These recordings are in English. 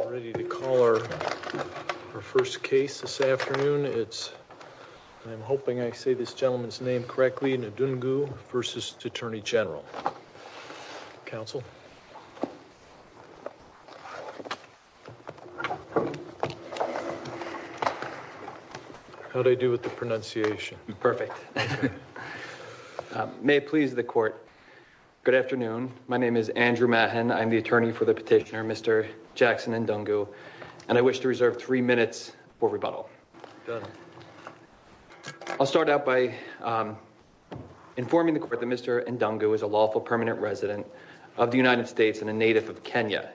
I'm ready to call our first case this afternoon. It's, I'm hoping I say this gentleman's name correctly, Ndungu v. Attorney General. Counsel. How'd I do with the pronunciation? Perfect. May it please the court. Good afternoon. My name is Andrew Mahon. I'm the attorney for the petitioner, Mr. Jackson Ndungu, and I wish to reserve three minutes for rebuttal. I'll start out by informing the court that Mr. Ndungu is a lawful permanent resident of the United States and a native of Kenya.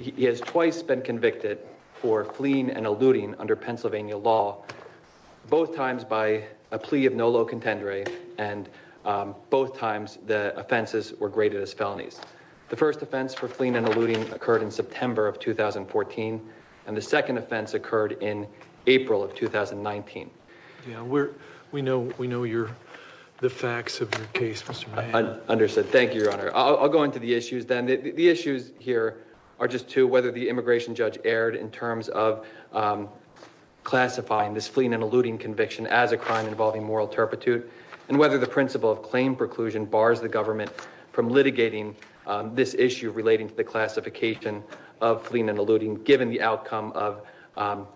He has twice been convicted for fleeing and eluding under Pennsylvania law, both times by a plea of nolo contendere and both times the offenses were graded as felonies. The first offense for fleeing and eluding occurred in September of 2014, and the second offense occurred in April of 2019. Yeah, we know the facts of your case, Mr. Mahon. Understood. Thank you, Your Honor. I'll go into the issues then. The issues here are just two, whether the immigration judge erred in terms of classifying this fleeing and eluding conviction as a crime involving moral turpitude and whether the principle of claim preclusion bars the government from litigating this issue relating to the classification of fleeing and eluding given the outcome of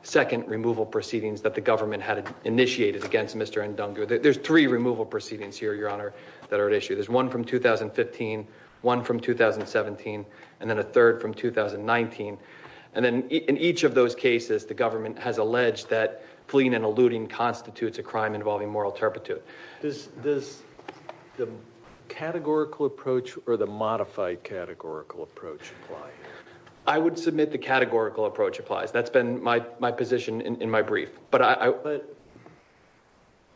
second removal proceedings that the government had initiated against Mr. Ndungu. There's three removal proceedings here, Your Honor, that are at issue. There's one from 2015, one from 2017, and then a third from 2019. And then in each of those cases, the government has alleged that fleeing and eluding constitutes a crime involving moral turpitude. Does the categorical approach or the modified categorical approach apply here? I would submit the categorical approach applies. That's been my position in my brief. But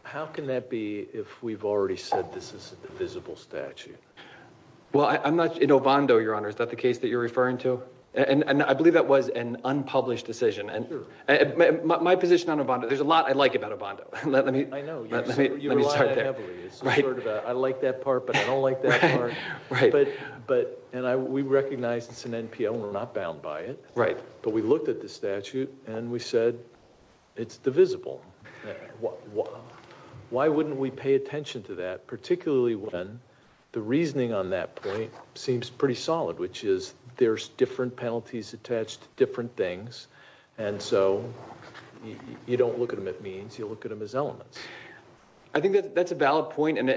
how can that be if we've already said this is a divisible statute? Well, I'm not, in Ovando, Your Honor, is that the case that you're referring to? And I believe that was an unpublished decision. And my position on Ovando, there's a lot I like about Ovando. I know, you rely on it heavily. I like that part, but I don't like that part. But, and we recognize it's an NPL and we're not bound by it. But we looked at the statute and we said, it's divisible. Why wouldn't we pay attention to that, particularly when the reasoning on that point seems pretty solid, which is there's different penalties attached to different things. And so you don't look at them at means, you look at them as elements. I think that that's a valid point and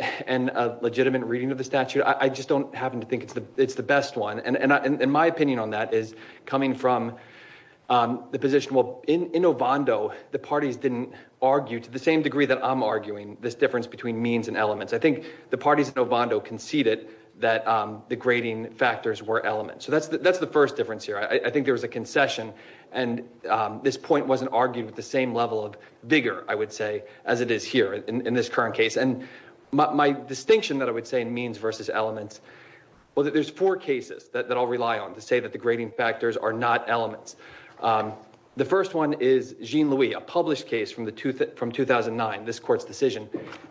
a legitimate reading of the statute. I just don't happen to think it's the best one. And my opinion on that is coming from the position, well, in Ovando, the parties didn't argue to the same degree that I'm arguing this difference between means and elements. I think the parties in Ovando conceded that the grading factors were elements. So that's the first difference here. I think there was a concession and this point wasn't argued with the same level of vigor, I would say, as it is here in this current case. And my distinction that I would say in means versus elements, well, there's four cases that I'll rely on to say that the grading factors are not elements. The first one is Jean-Louis, a published case from 2009, this court's decision.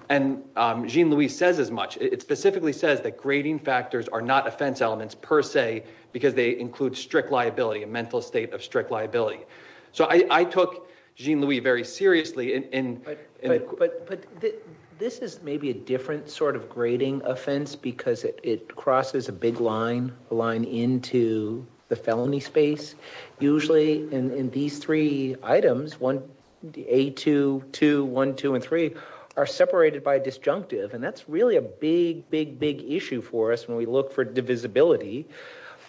And Jean-Louis says as much, it specifically says that grading factors are not offense elements per se, because they include strict liability, a mental state of strict liability. So I took Jean-Louis very seriously. But this is maybe a different sort of grading offense because it crosses a big line into the felony space. Usually in these three items, A2, 2, 1, 2, and 3, are separated by disjunctive. And that's really a big, big, big issue for us when we look for divisibility,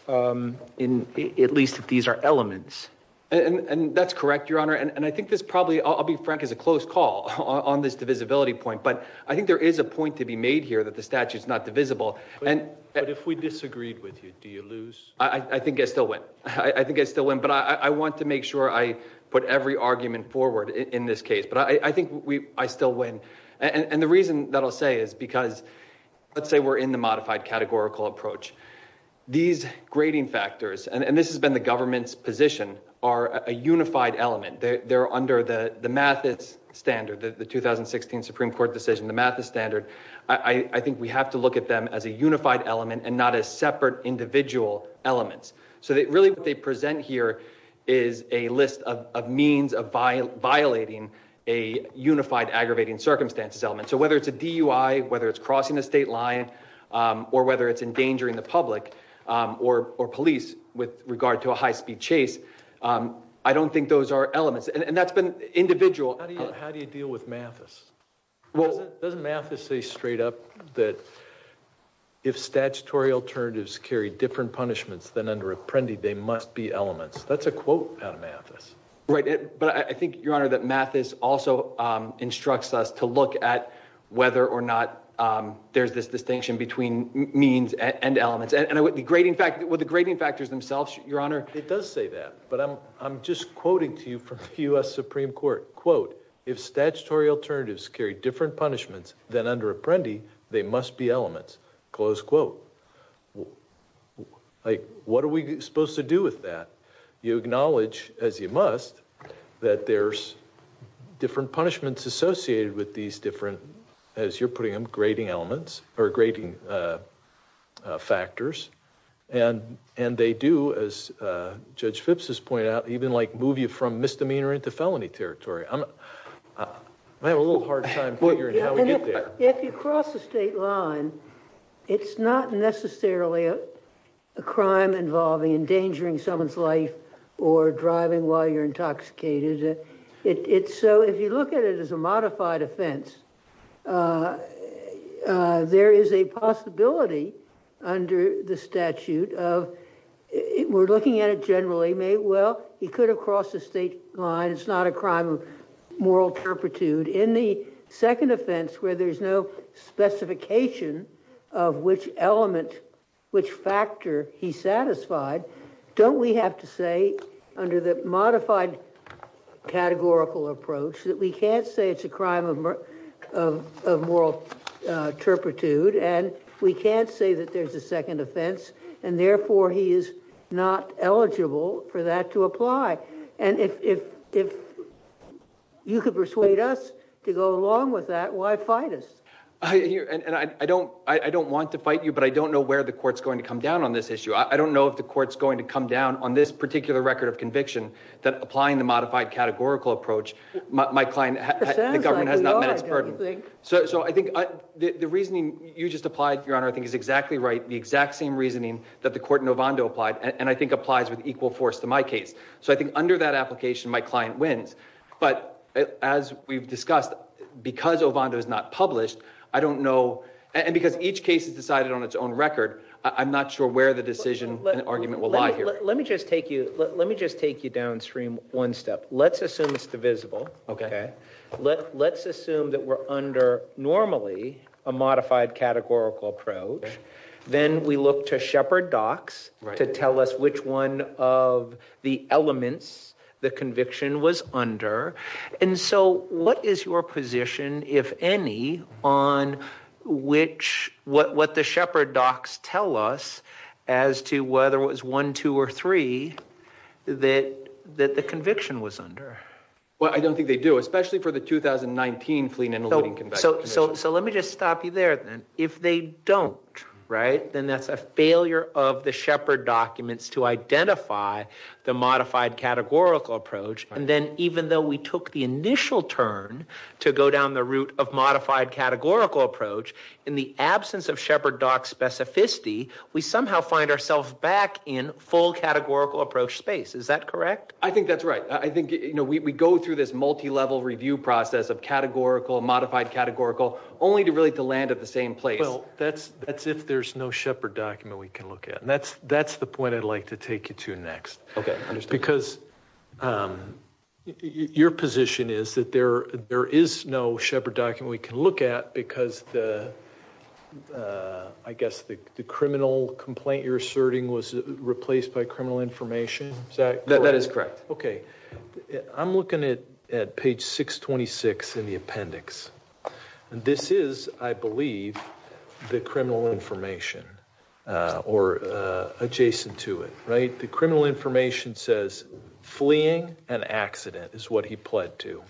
at least if these are elements. And that's correct, Your Honor. And I think this probably, I'll be frank, is a close call on this divisibility point. But I think there is a point to be made here that the statute's not divisible. But if we disagreed with you, do you lose? I think I still win. I think I still win, but I want to make sure I put every argument forward in this case. But I think I still win. And the reason that I'll say is because, let's say we're in the modified categorical approach. These grading factors, and this has been the government's position, are a unified element. They're under the Mathis standard, the 2016 Supreme Court decision, the Mathis standard. I think we have to look at them as a unified element and not as separate individual elements. So really what they present here is a list of means of violating a unified aggravating circumstances element. So whether it's a DUI, whether it's crossing a state line, or whether it's endangering the public or police with regard to a high-speed chase, I don't think those are elements. And that's been individual. How do you deal with Mathis? Doesn't Mathis say straight up that if statutory alternatives carry different punishments than under Apprendi, they must be elements. That's a quote out of Mathis. Right, but I think, Your Honor, that Mathis also instructs us to look at whether or not there's this distinction between means and elements. And with the grading factors themselves, Your Honor. It does say that, but I'm just quoting to you from the U.S. Supreme Court. Quote, if statutory alternatives carry different punishments than under Apprendi, they must be elements. Close quote. Like, what are we supposed to do with that? You acknowledge, as you must, that there's different punishments associated with these different, as you're putting them, grading elements, or grading factors. And they do, as Judge Phipps has pointed out, even like move you from misdemeanor into felony territory. I'm having a little hard time figuring how we get there. If you cross the state line, it's not necessarily a crime involving endangering someone's life or driving while you're intoxicated. It's so, if you look at it as a modified offense, there is a possibility under the statute of, we're looking at it generally, well, he could have crossed the state line. It's not a crime of moral turpitude. In the second offense, where there's no specification of which element, which factor he satisfied, don't we have to say, under the modified categorical approach, that we can't say it's a crime of moral turpitude, and we can't say that there's a second offense, and therefore, he is not eligible for that to apply? And if you could persuade us to go along with that, why fight us? And I don't want to fight you, but I don't know where the court's going to come down on this issue. I don't know if the court's going to come down on this particular record of conviction that applying the modified categorical approach my client, the government has not met its burden. So I think the reasoning you just applied, Your Honor, I think is exactly right. The exact same reasoning that the court in Ovando applied, and I think applies with equal force to my case. So I think under that application, my client wins. But as we've discussed, because Ovando is not published, I don't know, and because each case is decided on its own record, I'm not sure where the decision and argument will lie here. Let me just take you downstream one step. Let's assume it's divisible, okay? Let's assume that we're under, normally, a modified categorical approach. Then we look to Shepherd Docs to tell us which one of the elements the conviction was under. And so what is your position, if any, on what the Shepherd Docs tell us as to whether it was one, two, or three that the conviction was under? Well, I don't think they do, especially for the 2019 fleeing and eluding conviction. So let me just stop you there, then. If they don't, right, then that's a failure of the Shepherd documents to identify the modified categorical approach. And then even though we took the initial turn to go down the route of modified categorical approach, in the absence of Shepherd Docs specificity, we somehow find ourselves back in full categorical approach space. Is that correct? I think that's right. I think we go through this multi-level review process of categorical, modified categorical, only to really land at the same place. Well, that's if there's no Shepherd document we can look at. And that's the point I'd like to take you to next. Okay, understood. Because your position is that there is no Shepherd document we can look at because the, I guess the criminal complaint you're asserting was replaced by criminal information. Is that correct? That is correct. Okay. I'm looking at page 626 in the appendix. This is, I believe, the criminal information or adjacent to it, right? The criminal information says fleeing and accident is what he pled to.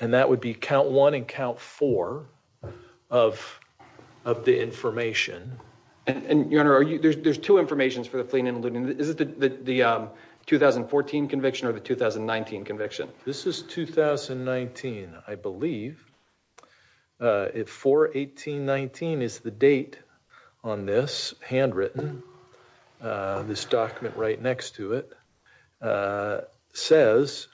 And that would be count one and count four of the information. And your honor, there's two informations for the fleeing and looting. Is it the 2014 conviction or the 2019 conviction? This is 2019, I believe. If 4-18-19 is the date on this, handwritten, this document right next to it, says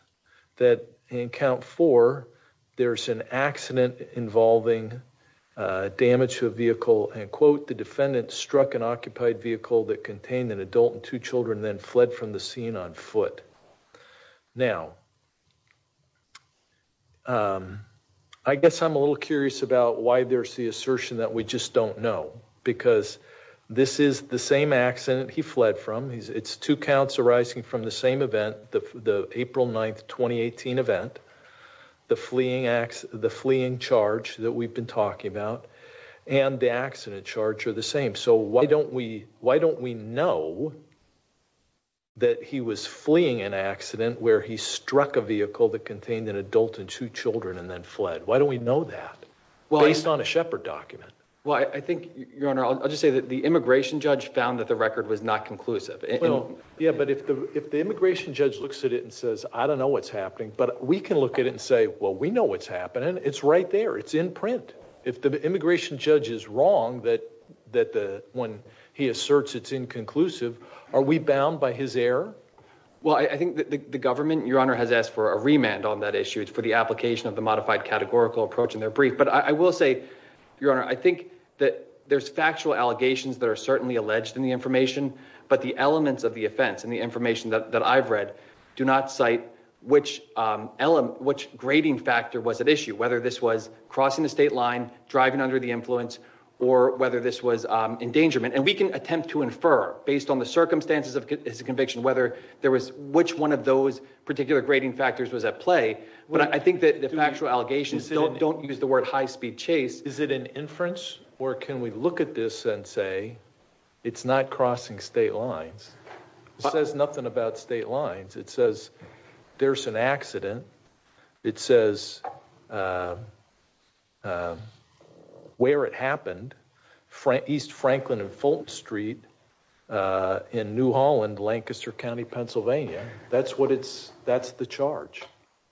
that in count four, there's an accident involving damage to a vehicle and quote, the defendant struck an occupied vehicle that contained an adult and two children then fled from the scene on foot. Now, I guess I'm a little curious about why there's the assertion that we just don't know. Because this is the same accident he fled from. It's two counts arising from the same event, the April 9th, 2018 event. The fleeing charge that we've been talking about and the accident charge are the same. So why don't we know that he was fleeing an accident where he struck a vehicle that contained an adult and two children and then fled? Why don't we know that based on a Shepard document? Well, I think, Your Honor, I'll just say that the immigration judge found that the record was not conclusive. Yeah, but if the immigration judge looks at it and says, I don't know what's happening, but we can look at it and say, well, we know what's happening. It's right there, it's in print. If the immigration judge is wrong that when he asserts it's inconclusive, are we bound by his error? Well, I think the government, Your Honor, has asked for a remand on that issue for the application of the modified categorical approach in their brief. But I will say, Your Honor, I think that there's factual allegations that are certainly alleged in the information, but the elements of the offense and the information that I've read do not cite which grading factor was at issue, whether this was crossing the state line, driving under the influence, or whether this was endangerment. And we can attempt to infer based on the circumstances of his conviction whether there was which one of those particular grading factors was at play. But I think that the factual allegations don't use the word high-speed chase. Is it an inference? Or can we look at this and say it's not crossing state lines? It says nothing about state lines. It says there's an accident. It says where it happened, East Franklin and Fulton Street in New Holland, Lancaster County, Pennsylvania. That's what it's, that's the charge.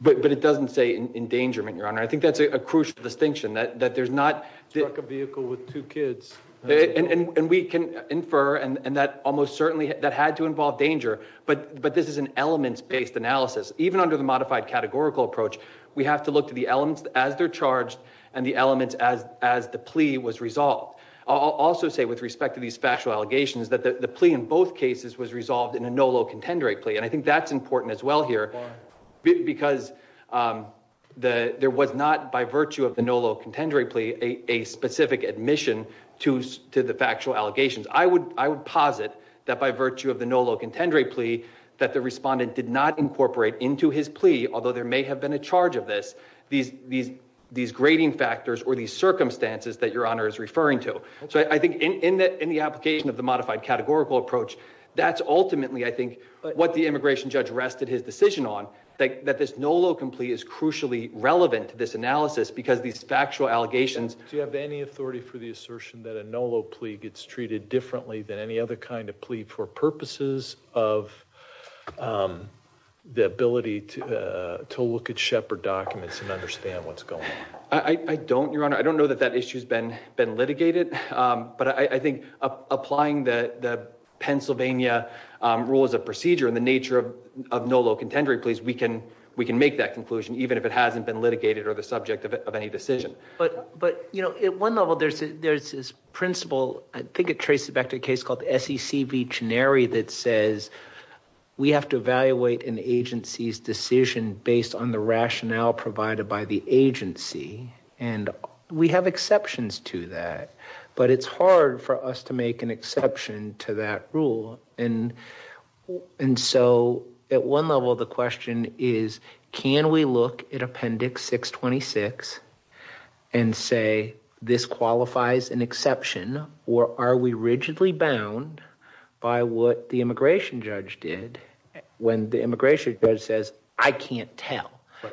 But it doesn't say endangerment, Your Honor. I think that's a crucial distinction that there's not- He struck a vehicle with two kids. And we can infer, and that almost certainly, that had to involve danger, but this is an elements-based analysis. Even under the modified categorical approach, we have to look to the elements as they're charged and the elements as the plea was resolved. I'll also say with respect to these factual allegations that the plea in both cases was resolved in a no low contender rate plea. And I think that's important as well here because there was not by virtue of the no low contender rate plea, a specific admission to the factual allegations. I would posit that by virtue of the no low contender rate plea that the respondent did not incorporate into his plea, although there may have been a charge of this, these grading factors or these circumstances that Your Honor is referring to. So I think in the application of the modified categorical approach, that's ultimately, I think, what the immigration judge rested his decision on, that this no low plea is crucially relevant to this analysis because these factual allegations. Do you have any authority for the assertion that a no low plea gets treated differently than any other kind of plea for purposes of the ability to look at Shepard documents and understand what's going on? I don't, Your Honor. I don't know that that issue has been litigated, but I think applying the Pennsylvania rule as a procedure in the nature of no low contender rate pleas, we can make that conclusion, even if it hasn't been litigated or the subject of any decision. But at one level, there's this principle, I think it traces back to a case called the SEC v. Chenery that says we have to evaluate an agency's decision based on the rationale provided by the agency, and we have exceptions to that, but it's hard for us to make an exception to that rule. And so at one level, the question is, can we look at Appendix 626 and say this qualifies an exception, or are we rigidly bound by what the immigration judge did when the immigration judge says, I can't tell?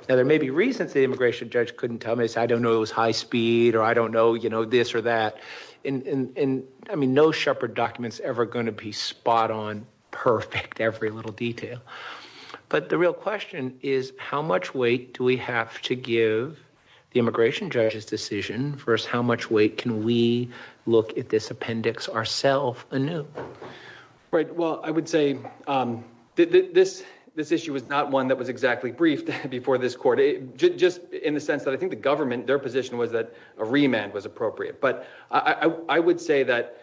Now, there may be reasons the immigration judge couldn't tell me, say, I don't know it was high speed, or I don't know this or that. And I mean, no Shepard document's ever gonna be spot on, perfect, every little detail. But the real question is, how much weight do we have to give the immigration judge's decision versus how much weight can we look at this appendix ourself anew? Right, well, I would say this issue was not one that was exactly briefed before this court, just in the sense that I think the government, their position was that a remand was appropriate. But I would say that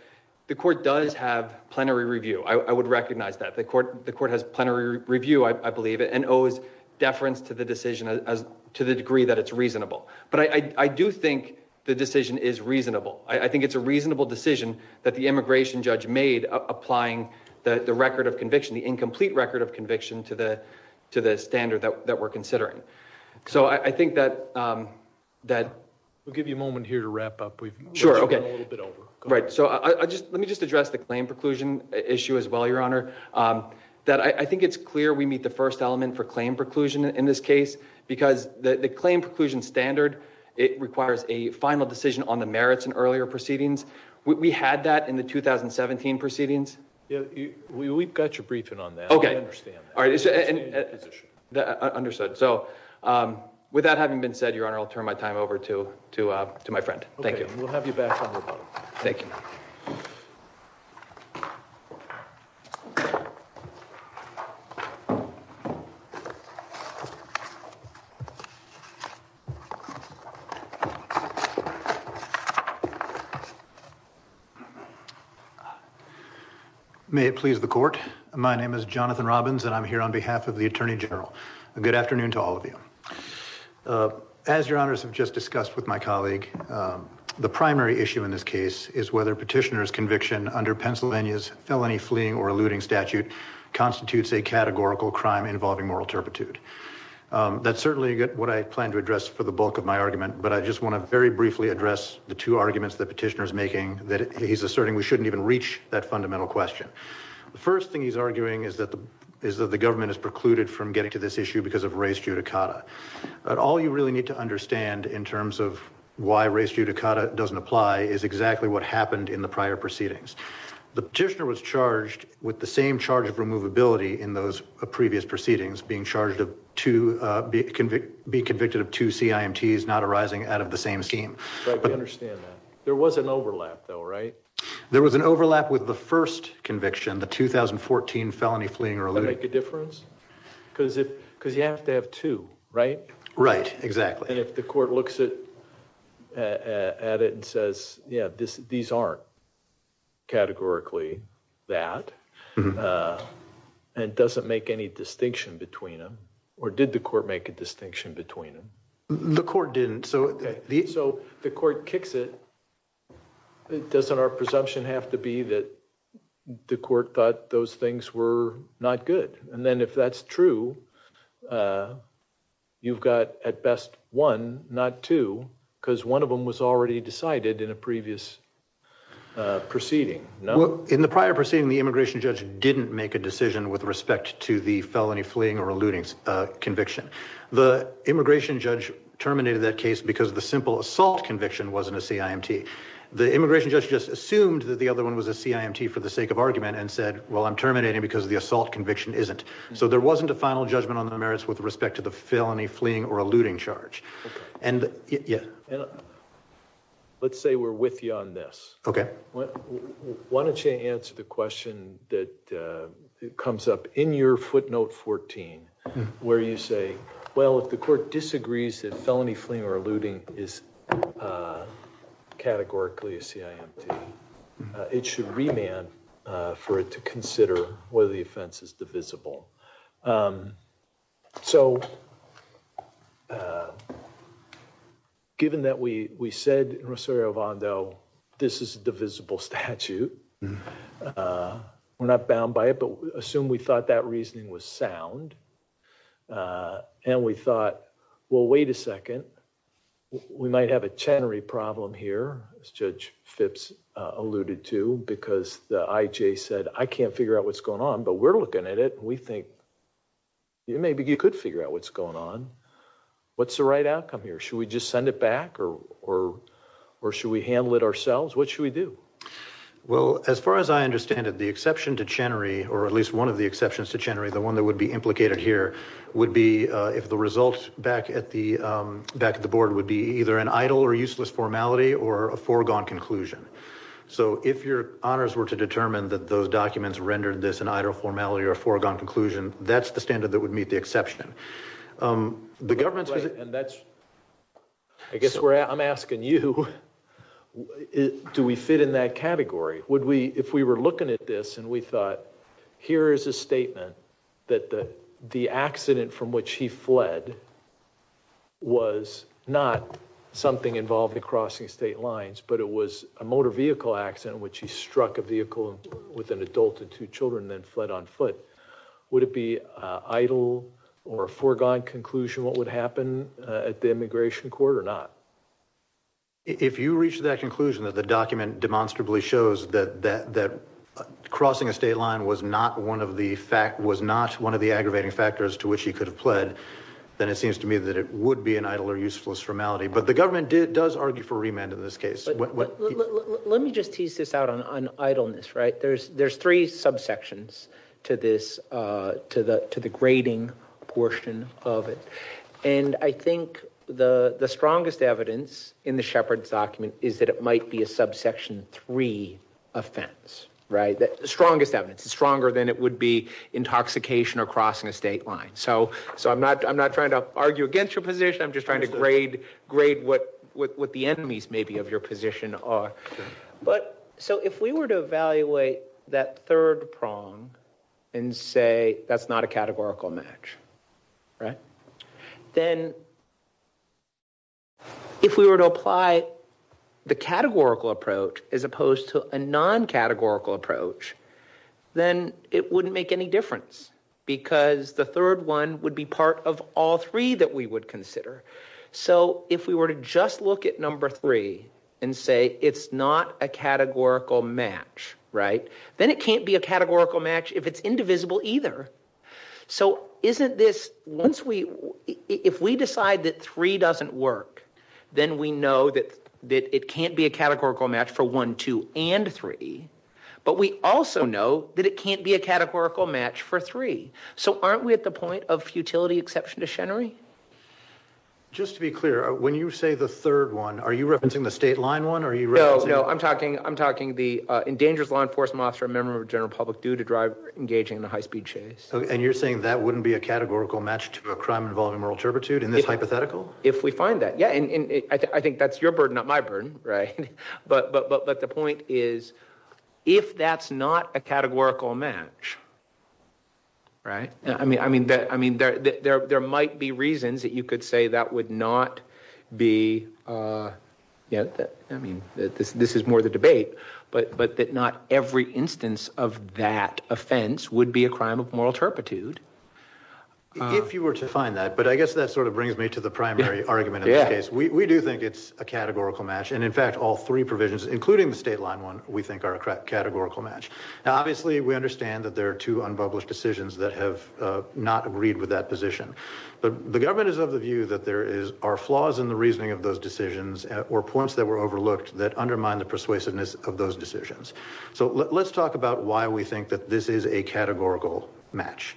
the court does have plenary review. I would recognize that. The court has plenary review, I believe, and owes deference to the decision to the degree that it's reasonable. But I do think the decision is reasonable. I think it's a reasonable decision that the immigration judge made applying the record of conviction, the incomplete record of conviction to the standard that we're considering. So I think that that... We'll give you a moment here to wrap up. We've moved a little bit over. Right, so let me just address the claim preclusion issue as well, Your Honor. That I think it's clear we meet the first element for claim preclusion in this case because the claim preclusion standard, it requires a final decision on the merits and earlier proceedings. We had that in the 2017 proceedings. We've got your briefing on that. Okay. I understand that. All right. It's an issue. Understood, so with that having been said, Your Honor, I'll turn my time over to my friend. Thank you. Okay, we'll have you back on the podium. Thank you. May it please the court. My name is Jonathan Robbins and I'm here on behalf of the Attorney General. Good afternoon to all of you. As Your Honors have just discussed with my colleague, the primary issue in this case is whether petitioner's conviction under Pennsylvania's felony fleeing or eluding statute constitutes a categorical crime involving moral turpitude. That's certainly what I plan to address for the bulk of my argument, but I just wanna very briefly address the two arguments that petitioner's making that he's asserting we shouldn't even reach that fundamental question. The first thing he's arguing is that the government is precluded from getting to this issue because of race judicata. But all you really need to understand in terms of why race judicata doesn't apply is exactly what happened in the prior proceedings. The petitioner was charged with the same charge of removability in those previous proceedings, being convicted of two CIMTs not arising out of the same scheme. Right, we understand that. There was an overlap though, right? There was an overlap with the first conviction, the 2014 felony fleeing or eluding. Does that make a difference? Because you have to have two, right? Right, exactly. And if the court looks at it and says, yeah, these aren't categorically that, and doesn't make any distinction between them, or did the court make a distinction between them? The court didn't, so the- So does our presumption have to be that the court thought those things were not good? And then if that's true, you've got at best one, not two, because one of them was already decided in a previous proceeding, no? In the prior proceeding, the immigration judge didn't make a decision with respect to the felony fleeing or eluding conviction. The immigration judge terminated that case because the simple assault conviction wasn't a CIMT. The immigration judge just assumed that the other one was a CIMT for the sake of argument and said, well, I'm terminating because the assault conviction isn't. So there wasn't a final judgment on the merits with respect to the felony fleeing or eluding charge. And yeah. Let's say we're with you on this. Okay. Why don't you answer the question that comes up in your footnote 14, where you say, well, if the court disagrees that felony fleeing or eluding is categorically a CIMT, it should remand for it to consider whether the offense is divisible. So, given that we said in Rosario-Ondo, this is a divisible statute, we're not bound by it, but assume we thought that reasoning was sound. And we thought, well, wait a second. We might have a Chenery problem here, as Judge Phipps alluded to, because the IJ said, I can't figure out what's going on, but we're looking at it. We think maybe you could figure out what's going on. What's the right outcome here? Should we just send it back or should we handle it ourselves? What should we do? Well, as far as I understand it, the exception to Chenery, or at least one of the exceptions to Chenery, the one that would be implicated here, would be if the results back at the Board would be either an idle or useless formality or a foregone conclusion. So if your honors were to determine that those documents rendered this an idle formality or a foregone conclusion, that's the standard that would meet the exception. The government's gonna- And that's, I guess I'm asking you, do we fit in that category? If we were looking at this and we thought, here is a statement that the accident from which he fled was not something involving crossing state lines, but it was a motor vehicle accident in which he struck a vehicle with an adult and two children and then fled on foot, would it be idle or a foregone conclusion what would happen at the immigration court or not? If you reach that conclusion that the document demonstrably shows that crossing a state line was not one of the aggravating factors to which he could have fled, then it seems to me that it would be an idle or useless formality. But the government does argue for remand in this case. Let me just tease this out on idleness, right? There's three subsections to this, to the grading portion of it. And I think the strongest evidence in the Shepard's document is that it might be a subsection three offense, right? Strongest evidence, it's stronger than it would be intoxication or crossing a state line. So I'm not trying to argue against your position, I'm just trying to grade what the enemies maybe of your position are. But so if we were to evaluate that third prong and say that's not a categorical match, right? Then if we were to apply the categorical approach as opposed to a non-categorical approach, then it wouldn't make any difference because the third one would be part of all three that we would consider. So if we were to just look at number three and say it's not a categorical match, right? Then it can't be a categorical match if it's indivisible either. So isn't this, once we, if we decide that three doesn't work, then we know that it can't be a categorical match for one, two, and three. But we also know that it can't be a categorical match for three. So aren't we at the point of futility exception to Chenery? Just to be clear, when you say the third one, are you referencing the state line one? Are you referencing- No, no, I'm talking the endangered law enforcement officer and member of general public due to driver engaging in a high-speed chase? And you're saying that wouldn't be a categorical match to a crime involving moral turpitude in this hypothetical? If we find that, yeah. And I think that's your burden, not my burden, right? But the point is, if that's not a categorical match, right? I mean, there might be reasons that you could say that would not be, yeah, I mean, this is more the debate, but that not every instance of that offense would be a crime of moral turpitude. If you were to find that, but I guess that sort of brings me to the primary argument in this case. We do think it's a categorical match. And in fact, all three provisions, including the state line one, we think are a categorical match. Now, obviously we understand that there are two unpublished decisions that have not agreed with that position. But the government is of the view that there are flaws in the reasoning of those decisions or points that were overlooked that undermine the persuasiveness of those decisions. So let's talk about why we think that this is a categorical match.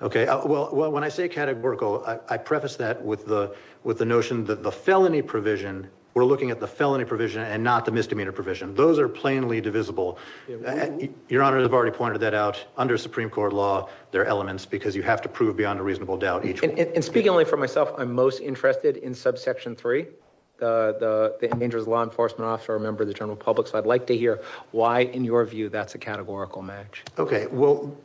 Okay, well, when I say categorical, I preface that with the notion that the felony provision, we're looking at the felony provision and not the misdemeanor provision. Those are plainly divisible. Your Honor, I've already pointed that out under Supreme Court law, there are elements because you have to prove beyond a reasonable doubt each one. And speaking only for myself, I'm most interested in subsection three, the endangerer's law enforcement officer or member of the general public. So I'd like to hear why in your view that's a categorical match. Okay, well,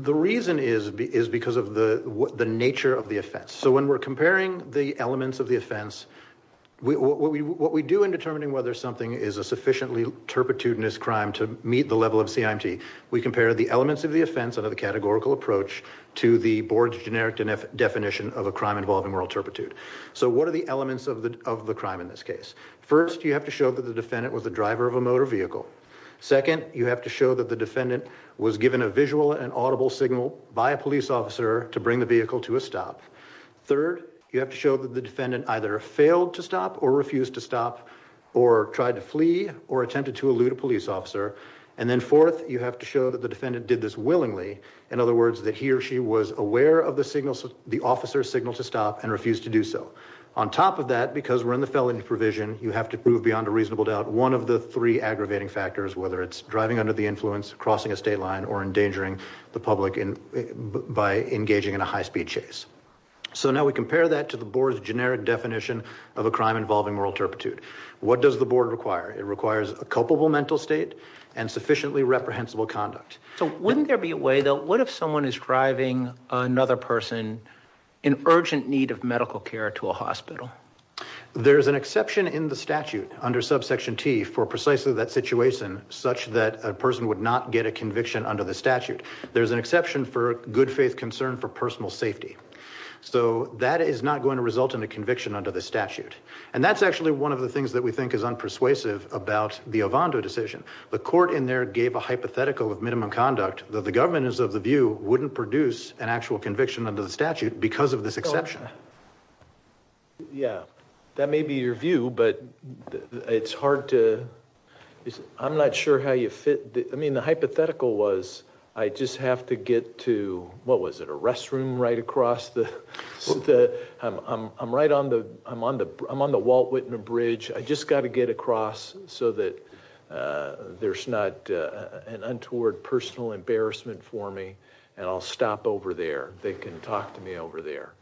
the reason is because of the nature of the offense. So when we're comparing the elements of the offense, what we do in determining whether something is a sufficiently turpitude in this crime to meet the level of CIMT, we compare the elements of the offense under the categorical approach to the board's generic definition of a crime involving moral turpitude. So what are the elements of the crime in this case? First, you have to show that the defendant was the driver of a motor vehicle. Second, you have to show that the defendant was given a visual and audible signal by a police officer to bring the vehicle to a stop. Third, you have to show that the defendant either failed to stop or refused to stop or tried to flee or attempted to elude a police officer. And then fourth, you have to show that the defendant did this willingly. In other words, that he or she was aware of the officer's signal to stop and refused to do so. On top of that, because we're in the felony provision, you have to prove beyond a reasonable doubt one of the three aggravating factors, whether it's driving under the influence, crossing a state line, or endangering the public by engaging in a high-speed chase. So now we compare that to the board's generic definition of a crime involving moral turpitude. What does the board require? It requires a culpable mental state and sufficiently reprehensible conduct. So wouldn't there be a way, though, what if someone is driving another person in urgent need of medical care to a hospital? There's an exception in the statute under subsection T for precisely that situation, such that a person would not get a conviction under the statute. There's an exception for good faith concern for personal safety. So that is not going to result in a conviction under the statute. And that's actually one of the things that we think is unpersuasive about the Ovando decision. The court in there gave a hypothetical of minimum conduct that the government is of the view wouldn't produce an actual conviction under the statute because of this exception. Yeah, that may be your view, but it's hard to, I'm not sure how you fit. I mean, the hypothetical was, I just have to get to, what was it, a restroom right across the, I'm right on the, I'm on the Walt Whitman Bridge. I just gotta get across so that there's not an untoward personal embarrassment for me and I'll stop over there. They can talk to me over there.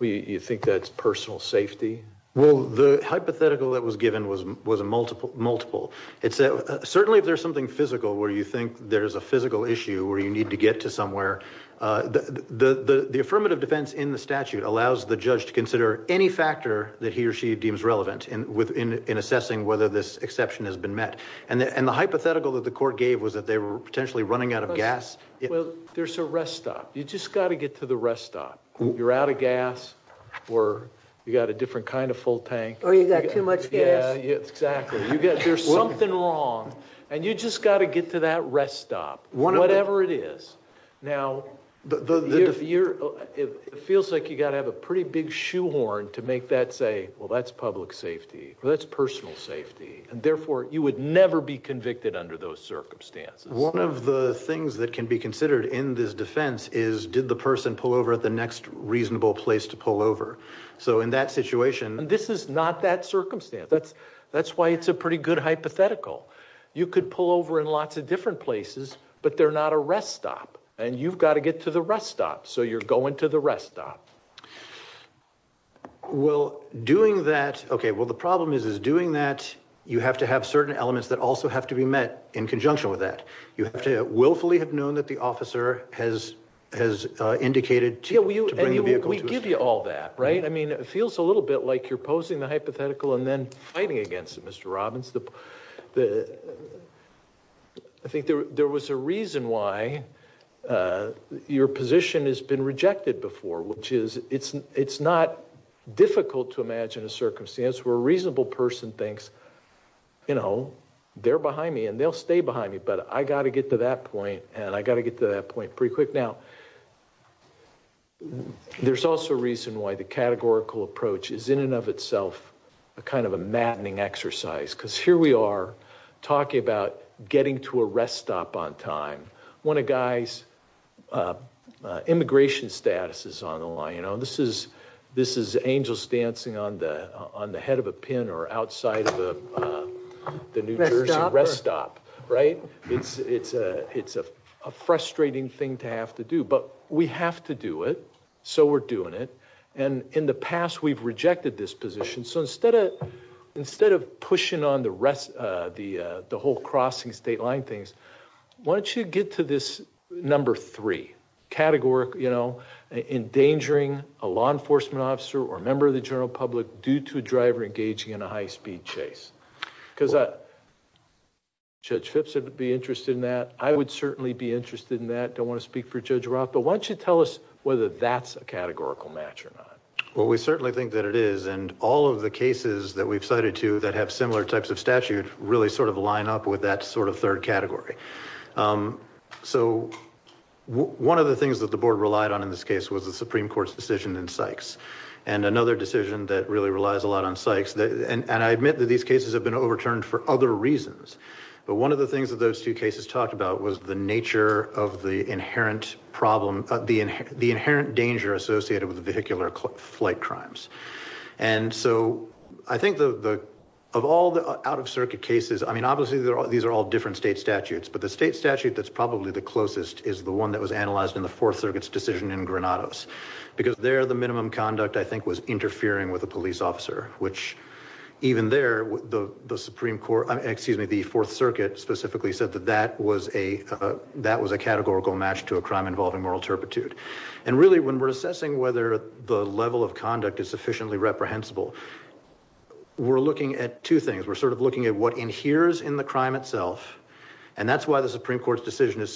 You think that's personal safety? Well, the hypothetical that was given was a multiple. It said, certainly if there's something physical where you think there's a physical issue where you need to get to somewhere, the affirmative defense in the statute allows the judge to consider any factor that he or she deems relevant in assessing whether this exception has been met. And the hypothetical that the court gave was that they were potentially running out of gas. Well, there's a rest stop. You just gotta get to the rest stop. You're out of gas or you got a different kind of full tank. Or you got too much gas. Yeah, exactly. There's something wrong and you just gotta get to that rest stop, whatever it is. Now, it feels like you gotta have a pretty big shoehorn to make that say, well, that's public safety or that's personal safety and therefore you would never be convicted under those circumstances. One of the things that can be considered in this defense is did the person pull over at the next reasonable place to pull over? So in that situation- And this is not that circumstance. That's why it's a pretty good hypothetical. You could pull over in lots of different places but they're not a rest stop and you've gotta get to the rest stop. So you're going to the rest stop. Well, doing that, okay. Well, the problem is, is doing that, you have to have certain elements that also have to be met in conjunction with that. You have to willfully have known that the officer has indicated to bring the vehicle- And we give you all that, right? I mean, it feels a little bit like you're posing the hypothetical and then fighting against it, Mr. Robbins. I think there was a reason why your position has been rejected before, which is it's not difficult to imagine a circumstance where a reasonable person thinks, they're behind me and they'll stay behind me, but I gotta get to that point and I gotta get to that point pretty quick. Now, there's also a reason why the categorical approach is in and of itself a kind of a maddening exercise because here we are talking about getting to a rest stop on time. One of guys' immigration status is on the line. This is angels dancing on the head of a pin or outside of the New Jersey rest stop, right? It's a frustrating thing to have to do, but we have to do it, so we're doing it. And in the past, we've rejected this position. So instead of pushing on the whole crossing state line things, why don't you get to this number three, categorical, you know, endangering a law enforcement officer or a member of the general public due to a driver engaging in a high-speed chase? Because Judge Phipps would be interested in that. I would certainly be interested in that. Don't wanna speak for Judge Roth, but why don't you tell us whether that's a categorical match or not? Well, we certainly think that it is. And all of the cases that we've cited to that have similar types of statute really sort of line up with that sort of third category. So one of the things that the board relied on in this case was the Supreme Court's decision in Sykes. And another decision that really relies a lot on Sykes, and I admit that these cases have been overturned for other reasons. But one of the things that those two cases talked about was the nature of the inherent problem, the inherent danger associated with vehicular flight crimes. And so I think of all the out-of-circuit cases, I mean, obviously, these are all different state statutes. But the state statute that's probably the closest is the one that was analyzed in the Fourth Circuit's decision in Granados. Because there, the minimum conduct, I think, was interfering with a police officer, which even there, the Supreme Court, excuse me, the Fourth Circuit specifically said that that was a categorical match to a crime involving moral turpitude. And really, when we're assessing whether the level of conduct is sufficiently reprehensible, we're looking at two things. We're sort of looking at what inheres in the crime itself, and that's why the Supreme Court's decision is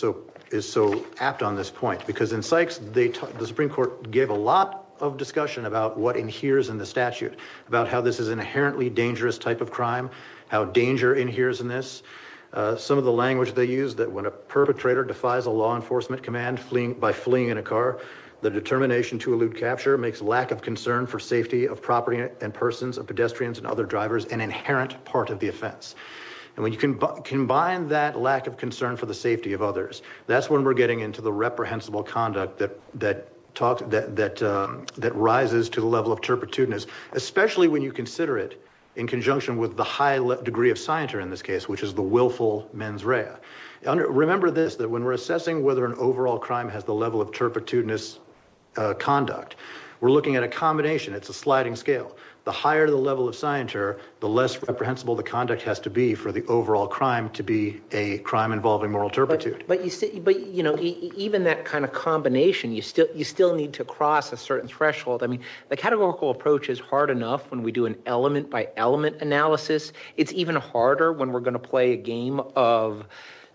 so apt on this point. Because in Sykes, the Supreme Court gave a lot of discussion about what inheres in the statute, about how this is an inherently dangerous type of crime, how danger inheres in this. Some of the language they used, that when a perpetrator defies a law enforcement command by fleeing in a car, the determination to elude capture makes lack of concern for safety of property and persons, of pedestrians and other drivers an inherent part of the offense. And when you combine that lack of concern for the safety of others, that's when we're getting into the reprehensible conduct that rises to the level of turpitudinous, especially when you consider it in conjunction with the high degree of scienter in this case which is the willful mens rea. Remember this, that when we're assessing whether an overall crime has the level of turpitudinous conduct, we're looking at a combination, it's a sliding scale. The higher the level of scienter, the less reprehensible the conduct has to be for the overall crime to be a crime involving moral turpitude. But even that kind of combination, you still need to cross a certain threshold. I mean, the categorical approach is hard enough when we do an element by element analysis. It's even harder when we're gonna play a game of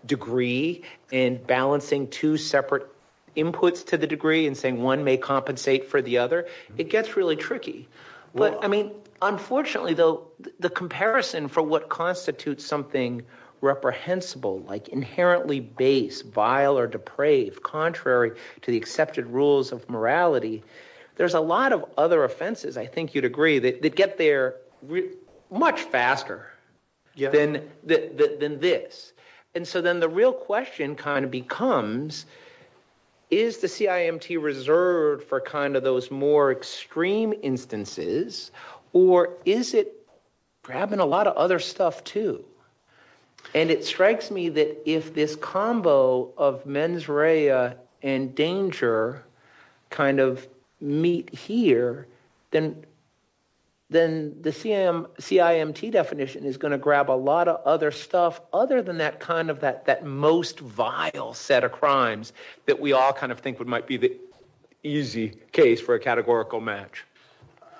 degree and balancing two separate inputs to the degree and saying one may compensate for the other. It gets really tricky. But I mean, unfortunately though, the comparison for what constitutes something reprehensible like inherently base, vile or depraved contrary to the accepted rules of morality, there's a lot of other offenses I think you'd agree that get there much faster than this. And so then the real question kind of becomes is the CIMT reserved for kind of those more extreme instances or is it grabbing a lot of other stuff too? And it strikes me that if this combo of mens rea and danger kind of meet here, then the CIMT definition is gonna grab a lot of other stuff other than that kind of that most vile set of crimes that we all kind of think would might be the easy case for a categorical match.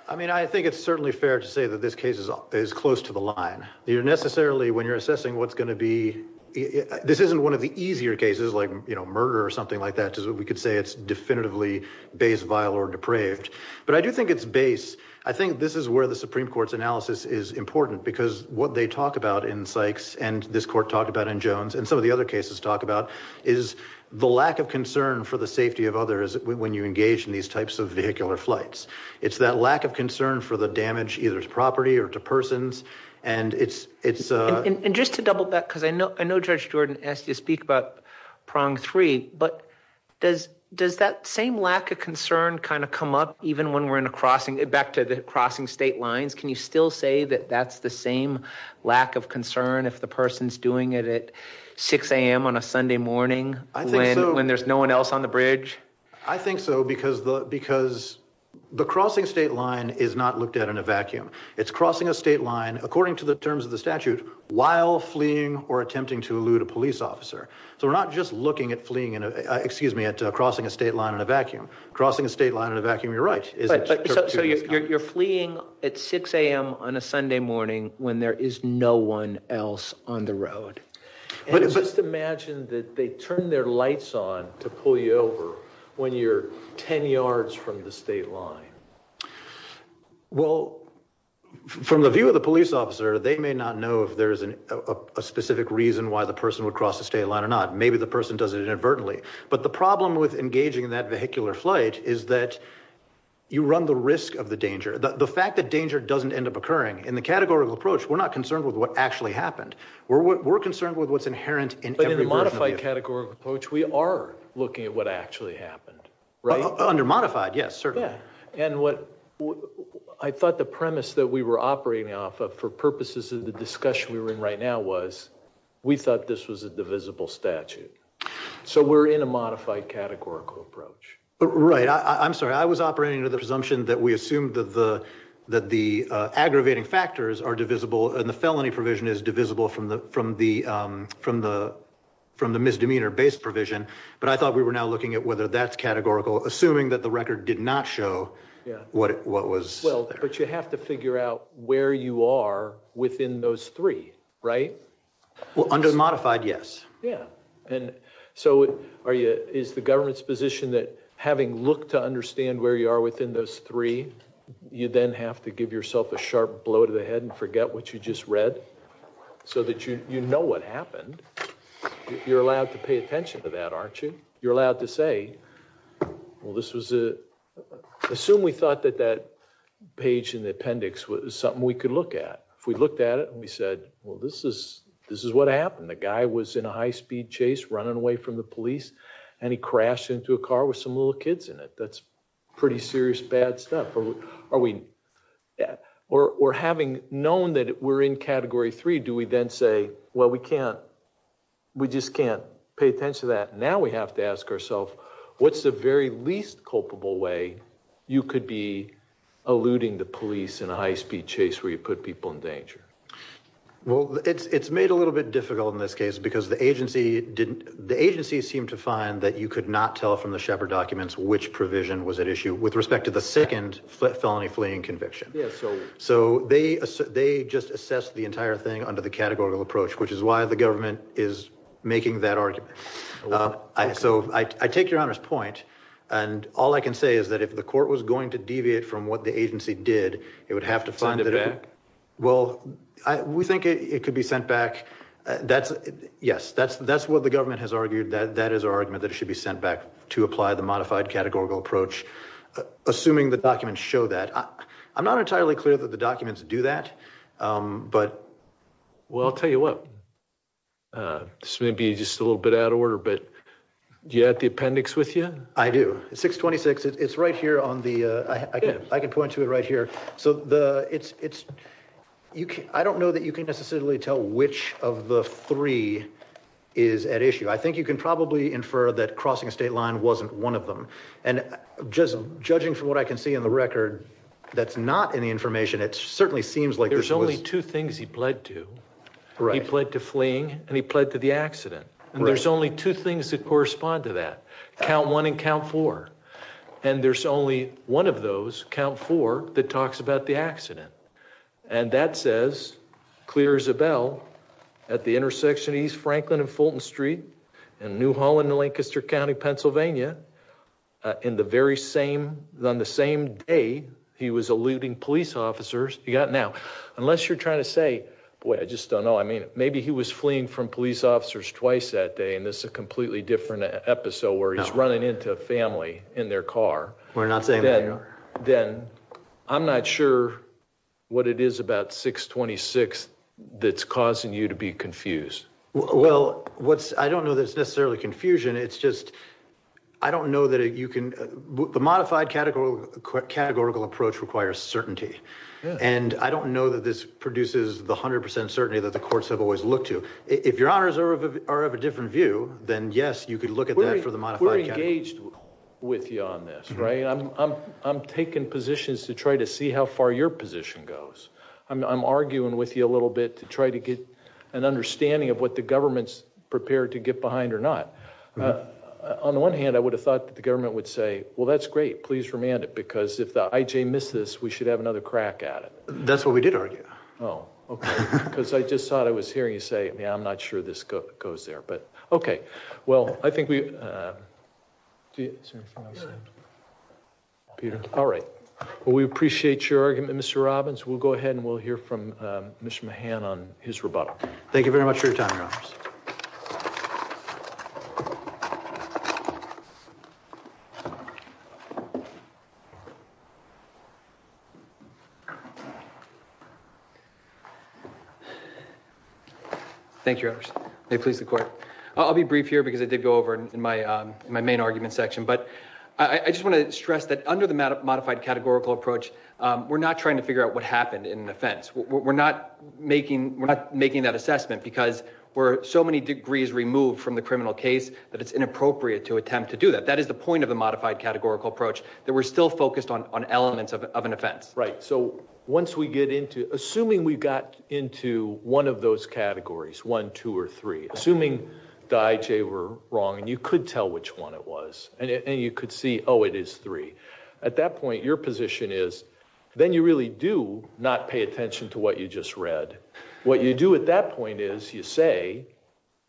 I mean, I think it's certainly fair to say that this case is close to the line. You're necessarily, when you're assessing what's gonna be, this isn't one of the easier cases like murder or something like that, because we could say it's definitively base, vile or depraved, but I do think it's base. I think this is where the Supreme Court's analysis is important because what they talk about in Sykes and this court talked about in Jones and some of the other cases talk about is the lack of concern for the safety of others when you engage in these types of vehicular flights. It's that lack of concern for the damage either to property or to persons and it's- And just to double back, cause I know Judge Jordan asked you to speak about prong three, but does that same lack of concern kind of come up even when we're in a crossing back to the crossing state lines? Can you still say that that's the same lack of concern if the person's doing it at 6 a.m. on a Sunday morning when there's no one else on the bridge? I think so because the crossing state line is not looked at in a vacuum. It's crossing a state line according to the terms of the statute while fleeing or attempting to elude a police officer. So we're not just looking at fleeing in a, excuse me, at crossing a state line in a vacuum. Crossing a state line in a vacuum, you're right. So you're fleeing at 6 a.m. on a Sunday morning when there is no one else on the road. And just imagine that they turn their lights on to pull you over when you're 10 yards from the state line. Well, from the view of the police officer, they may not know if there's a specific reason why the person would cross the state line or not. Maybe the person does it inadvertently. But the problem with engaging in that vehicular flight is that you run the risk of the danger. The fact that danger doesn't end up occurring in the categorical approach, we're not concerned with what actually happened. We're concerned with what's inherent in every version of it. But in the modified categorical approach, we are looking at what actually happened, right? Under modified, yes, certainly. And what I thought the premise that we were operating off of for purposes of the discussion we were in right now was, we thought this was a divisible statute. So we're in a modified categorical approach. Right, I'm sorry. I was operating under the presumption that we assumed that the aggravating factors are divisible and the felony provision is divisible from the misdemeanor-based provision. But I thought we were now looking at whether that's categorical, assuming that the record did not show what was there. Well, but you have to figure out where you are within those three, right? Well, under modified, yes. Yeah, and so is the government's position that having looked to understand where you are within those three, you then have to give yourself a sharp blow to the head and forget what you just read so that you know what happened? You're allowed to pay attention to that, aren't you? You're allowed to say, well, this was a, assume we thought that that page in the appendix was something we could look at. If we looked at it and we said, well, this is what happened. The guy was in a high-speed chase running away from the police, and he crashed into a car with some little kids in it. That's pretty serious bad stuff. Are we, or having known that we're in category three, do we then say, well, we can't, we just can't pay attention to that. Now we have to ask ourself, what's the very least culpable way you could be eluding the police in a high-speed chase where you put people in danger? Well, it's made a little bit difficult in this case because the agency didn't, the agency seemed to find that you could not tell from the Shepard documents which provision was at issue with respect to the second felony fleeing conviction. So they just assessed the entire thing under the categorical approach, which is why the government is making that argument. So I take your Honor's point. And all I can say is that if the court was going to deviate from what the agency did, it would have to find it back. Well, we think it could be sent back. That's, yes, that's what the government has argued. That is our argument that it should be sent back to apply the modified categorical approach, assuming the documents show that. I'm not entirely clear that the documents do that, but, well, I'll tell you what, this may be just a little bit out of order, but do you have the appendix with you? I do, 626, it's right here on the, I can point to it right here. So the, it's, you can, I don't know that you can necessarily tell which of the three is at issue. I think you can probably infer that crossing a state line wasn't one of them. And just judging from what I can see in the record, that's not any information. It certainly seems like this was- There's only two things he pled to. Right. He pled to fleeing and he pled to the accident. And there's only two things that correspond to that, count one and count four. And there's only one of those, count four, that talks about the accident. And that says, clear as a bell, at the intersection of East Franklin and Fulton Street and New Holland and Lancaster County, Pennsylvania, in the very same, on the same day, he was eluding police officers. You got now, unless you're trying to say, boy, I just don't know. I mean, maybe he was fleeing from police officers twice that day. And this is a completely different episode where he's running into a family in their car. We're not saying that, no. Then I'm not sure what it is about 626 that's causing you to be confused. Well, I don't know that it's necessarily confusion. It's just, I don't know that you can, the modified categorical approach requires certainty. And I don't know that this produces the 100% certainty that the courts have always looked to. If your honors are of a different view, then yes, you could look at that for the modified category. We're engaged with you on this, right? I'm taking positions to try to see how far your position goes. I'm arguing with you a little bit to try to get an understanding of what the government's prepared to get behind or not. On the one hand, I would have thought that the government would say, well, that's great, please remand it. Because if the IJ misses this, we should have another crack at it. That's what we did argue. Oh, okay. Because I just thought I was hearing you say, yeah, I'm not sure this goes there. But okay, well, I think we, Peter, all right. Well, we appreciate your argument, Mr. Robbins. We'll go ahead and we'll hear from Mr. Mahan on his rebuttal. Thank you very much for your time, Your Honors. Thank you, Your Honors. May it please the court. I'll be brief here because I did go over in my main argument section. But I just want to stress that under the modified categorical approach, we're not trying to figure out what happened in an offense. We're not making that assessment because we're so many degrees removed from the criminal case that it's inappropriate to attempt to do that. That is the point of the modified categorical approach, that we're still focused on elements of an offense. Right, so once we get into, assuming we got into one of those categories, one, two, or three, assuming the IJ were wrong and you could tell which one it was and you could see, oh, it is three. At that point, your position is, then you really do not pay attention to what you just read. What you do at that point is, you say,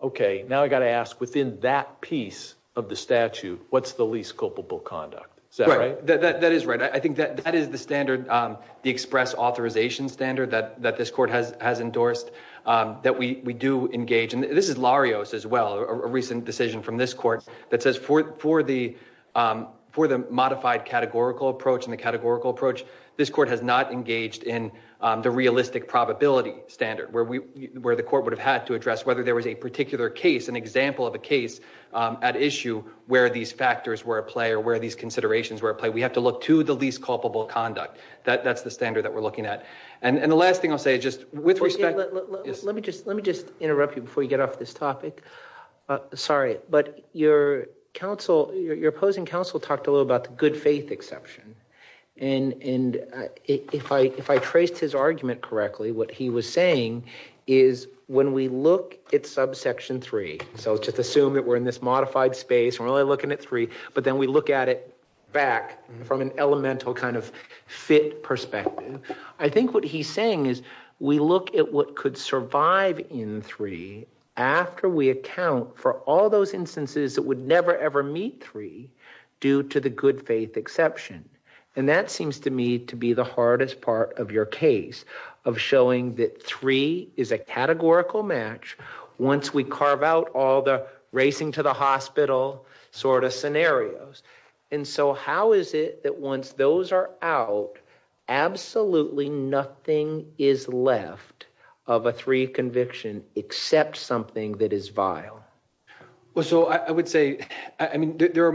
okay, now I gotta ask within that piece of the statute, what's the least culpable conduct? Is that right? Right, that is right. I think that is the standard, the express authorization standard that this court has endorsed, that we do engage. And this is Larios as well, a recent decision from this court that says for the modified categorical approach and the categorical approach, this court has not engaged in the realistic probability standard where the court would have had to address whether there was a particular case, an example of a case at issue where these factors were at play or where these considerations were at play. We have to look to the least culpable conduct. That's the standard that we're looking at. And the last thing I'll say, just with respect. Let me just interrupt you before you get off this topic. Sorry, but your opposing counsel talked a little about the good faith exception and if I traced his argument correctly, what he was saying is when we look at subsection three, so just assume that we're in this modified space, we're only looking at three, but then we look at it back from an elemental kind of fit perspective. I think what he's saying is we look at what could survive in three after we account for all those instances that would never ever meet three due to the good faith exception. And that seems to me to be the hardest part of your case of showing that three is a categorical match once we carve out all the racing to the hospital sort of scenarios. And so how is it that once those are out, absolutely nothing is left of a three conviction except something that is vile? Well, so I would say, I mean, there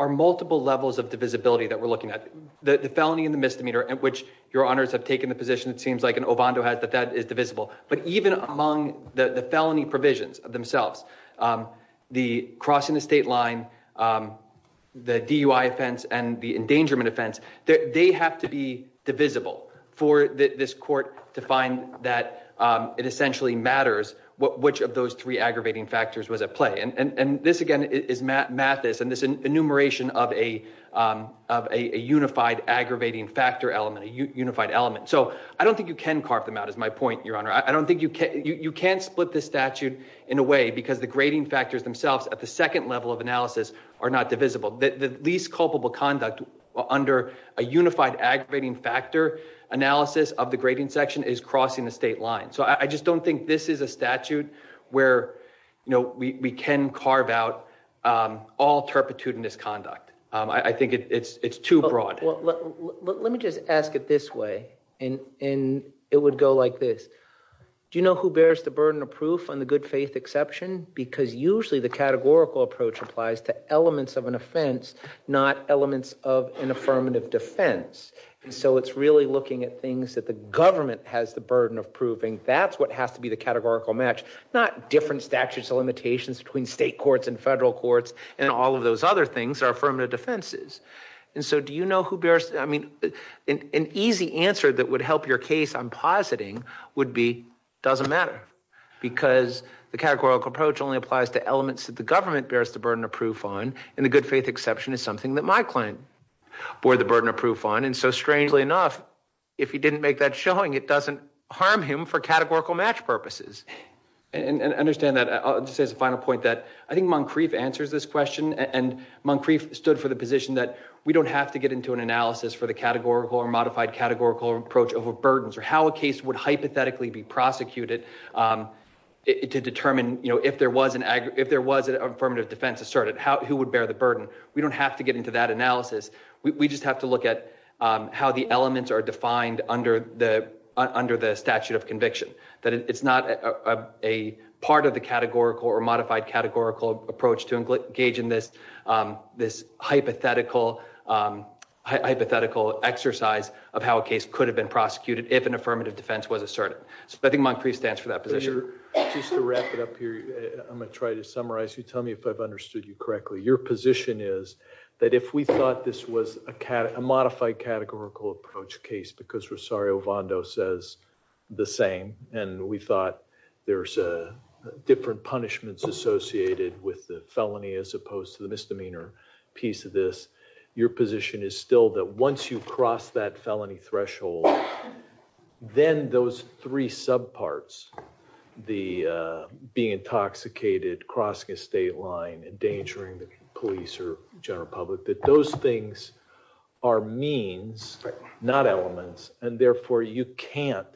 are multiple levels of divisibility that we're looking at. The felony and the misdemeanor at which your honors have taken the position it seems like and Ovando has that that is divisible, but even among the felony provisions themselves, the crossing the state line, the DUI offense and the endangerment offense, they have to be divisible for this court to find that it essentially matters which of those three aggravating factors was at play. And this again is Mathis and this enumeration of a unified aggravating factor element, a unified element. So I don't think you can carve them out is my point, your honor. I don't think you can, you can't split the statute in a way because the grading factors themselves at the second level of analysis are not divisible. The least culpable conduct under a unified aggravating factor analysis of the grading section is crossing the state line. So I just don't think this is a statute where we can carve out all turpitude and misconduct. I think it's too broad. Well, let me just ask it this way and it would go like this. Do you know who bears the burden of proof on the good faith exception? Because usually the categorical approach applies to elements of an offense, not elements of an affirmative defense. And so it's really looking at things that the government has the burden of proving that's what has to be the categorical match, not different statutes or limitations between state courts and federal courts and all of those other things are affirmative defenses. And so do you know who bears? I mean, an easy answer that would help your case I'm positing would be doesn't matter because the categorical approach only applies to elements that the government bears the burden of proof on and the good faith exception is something that my client bore the burden of proof on. And so strangely enough, if you didn't make that showing it doesn't harm him for categorical match purposes. And understand that, I'll just say as a final point that I think Moncrief answers this question and Moncrief stood for the position that we don't have to get into an analysis for the categorical or modified categorical approach of a burdens or how a case would hypothetically be prosecuted to determine, if there was an affirmative defense asserted who would bear the burden. We don't have to get into that analysis. We just have to look at how the elements are defined under the statute of conviction. That it's not a part of the categorical or modified categorical approach to engage in this hypothetical exercise of how a case could have been prosecuted if an affirmative defense was asserted. So I think Moncrief stands for that position. Just to wrap it up here, I'm gonna try to summarize. You tell me if I've understood you correctly. Your position is that if we thought this was a modified categorical approach case because Rosario Vondo says the same and we thought there's different punishments associated with the felony as opposed to the misdemeanor piece of this. Your position is still that once you cross that felony threshold, then those three subparts, the being intoxicated, crossing a state line, endangering the police or general public, that those things are means, not elements. And therefore, you can't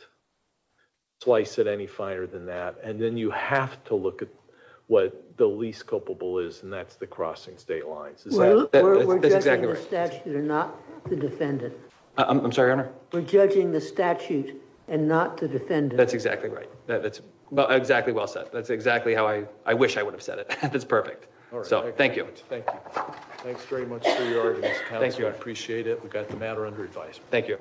slice at any finer than that. And then you have to look at what the least culpable is and that's the crossing state lines. Is that? That's exactly right. We're judging the statute and not the defendant. I'm sorry, Your Honor? We're judging the statute and not the defendant. That's exactly right. That's exactly well said. That's exactly how I wish I would have said it. That's perfect. So thank you. Thank you. Thanks very much for your arguments, Counselor. I appreciate it. We've got the matter under advice. Thank you.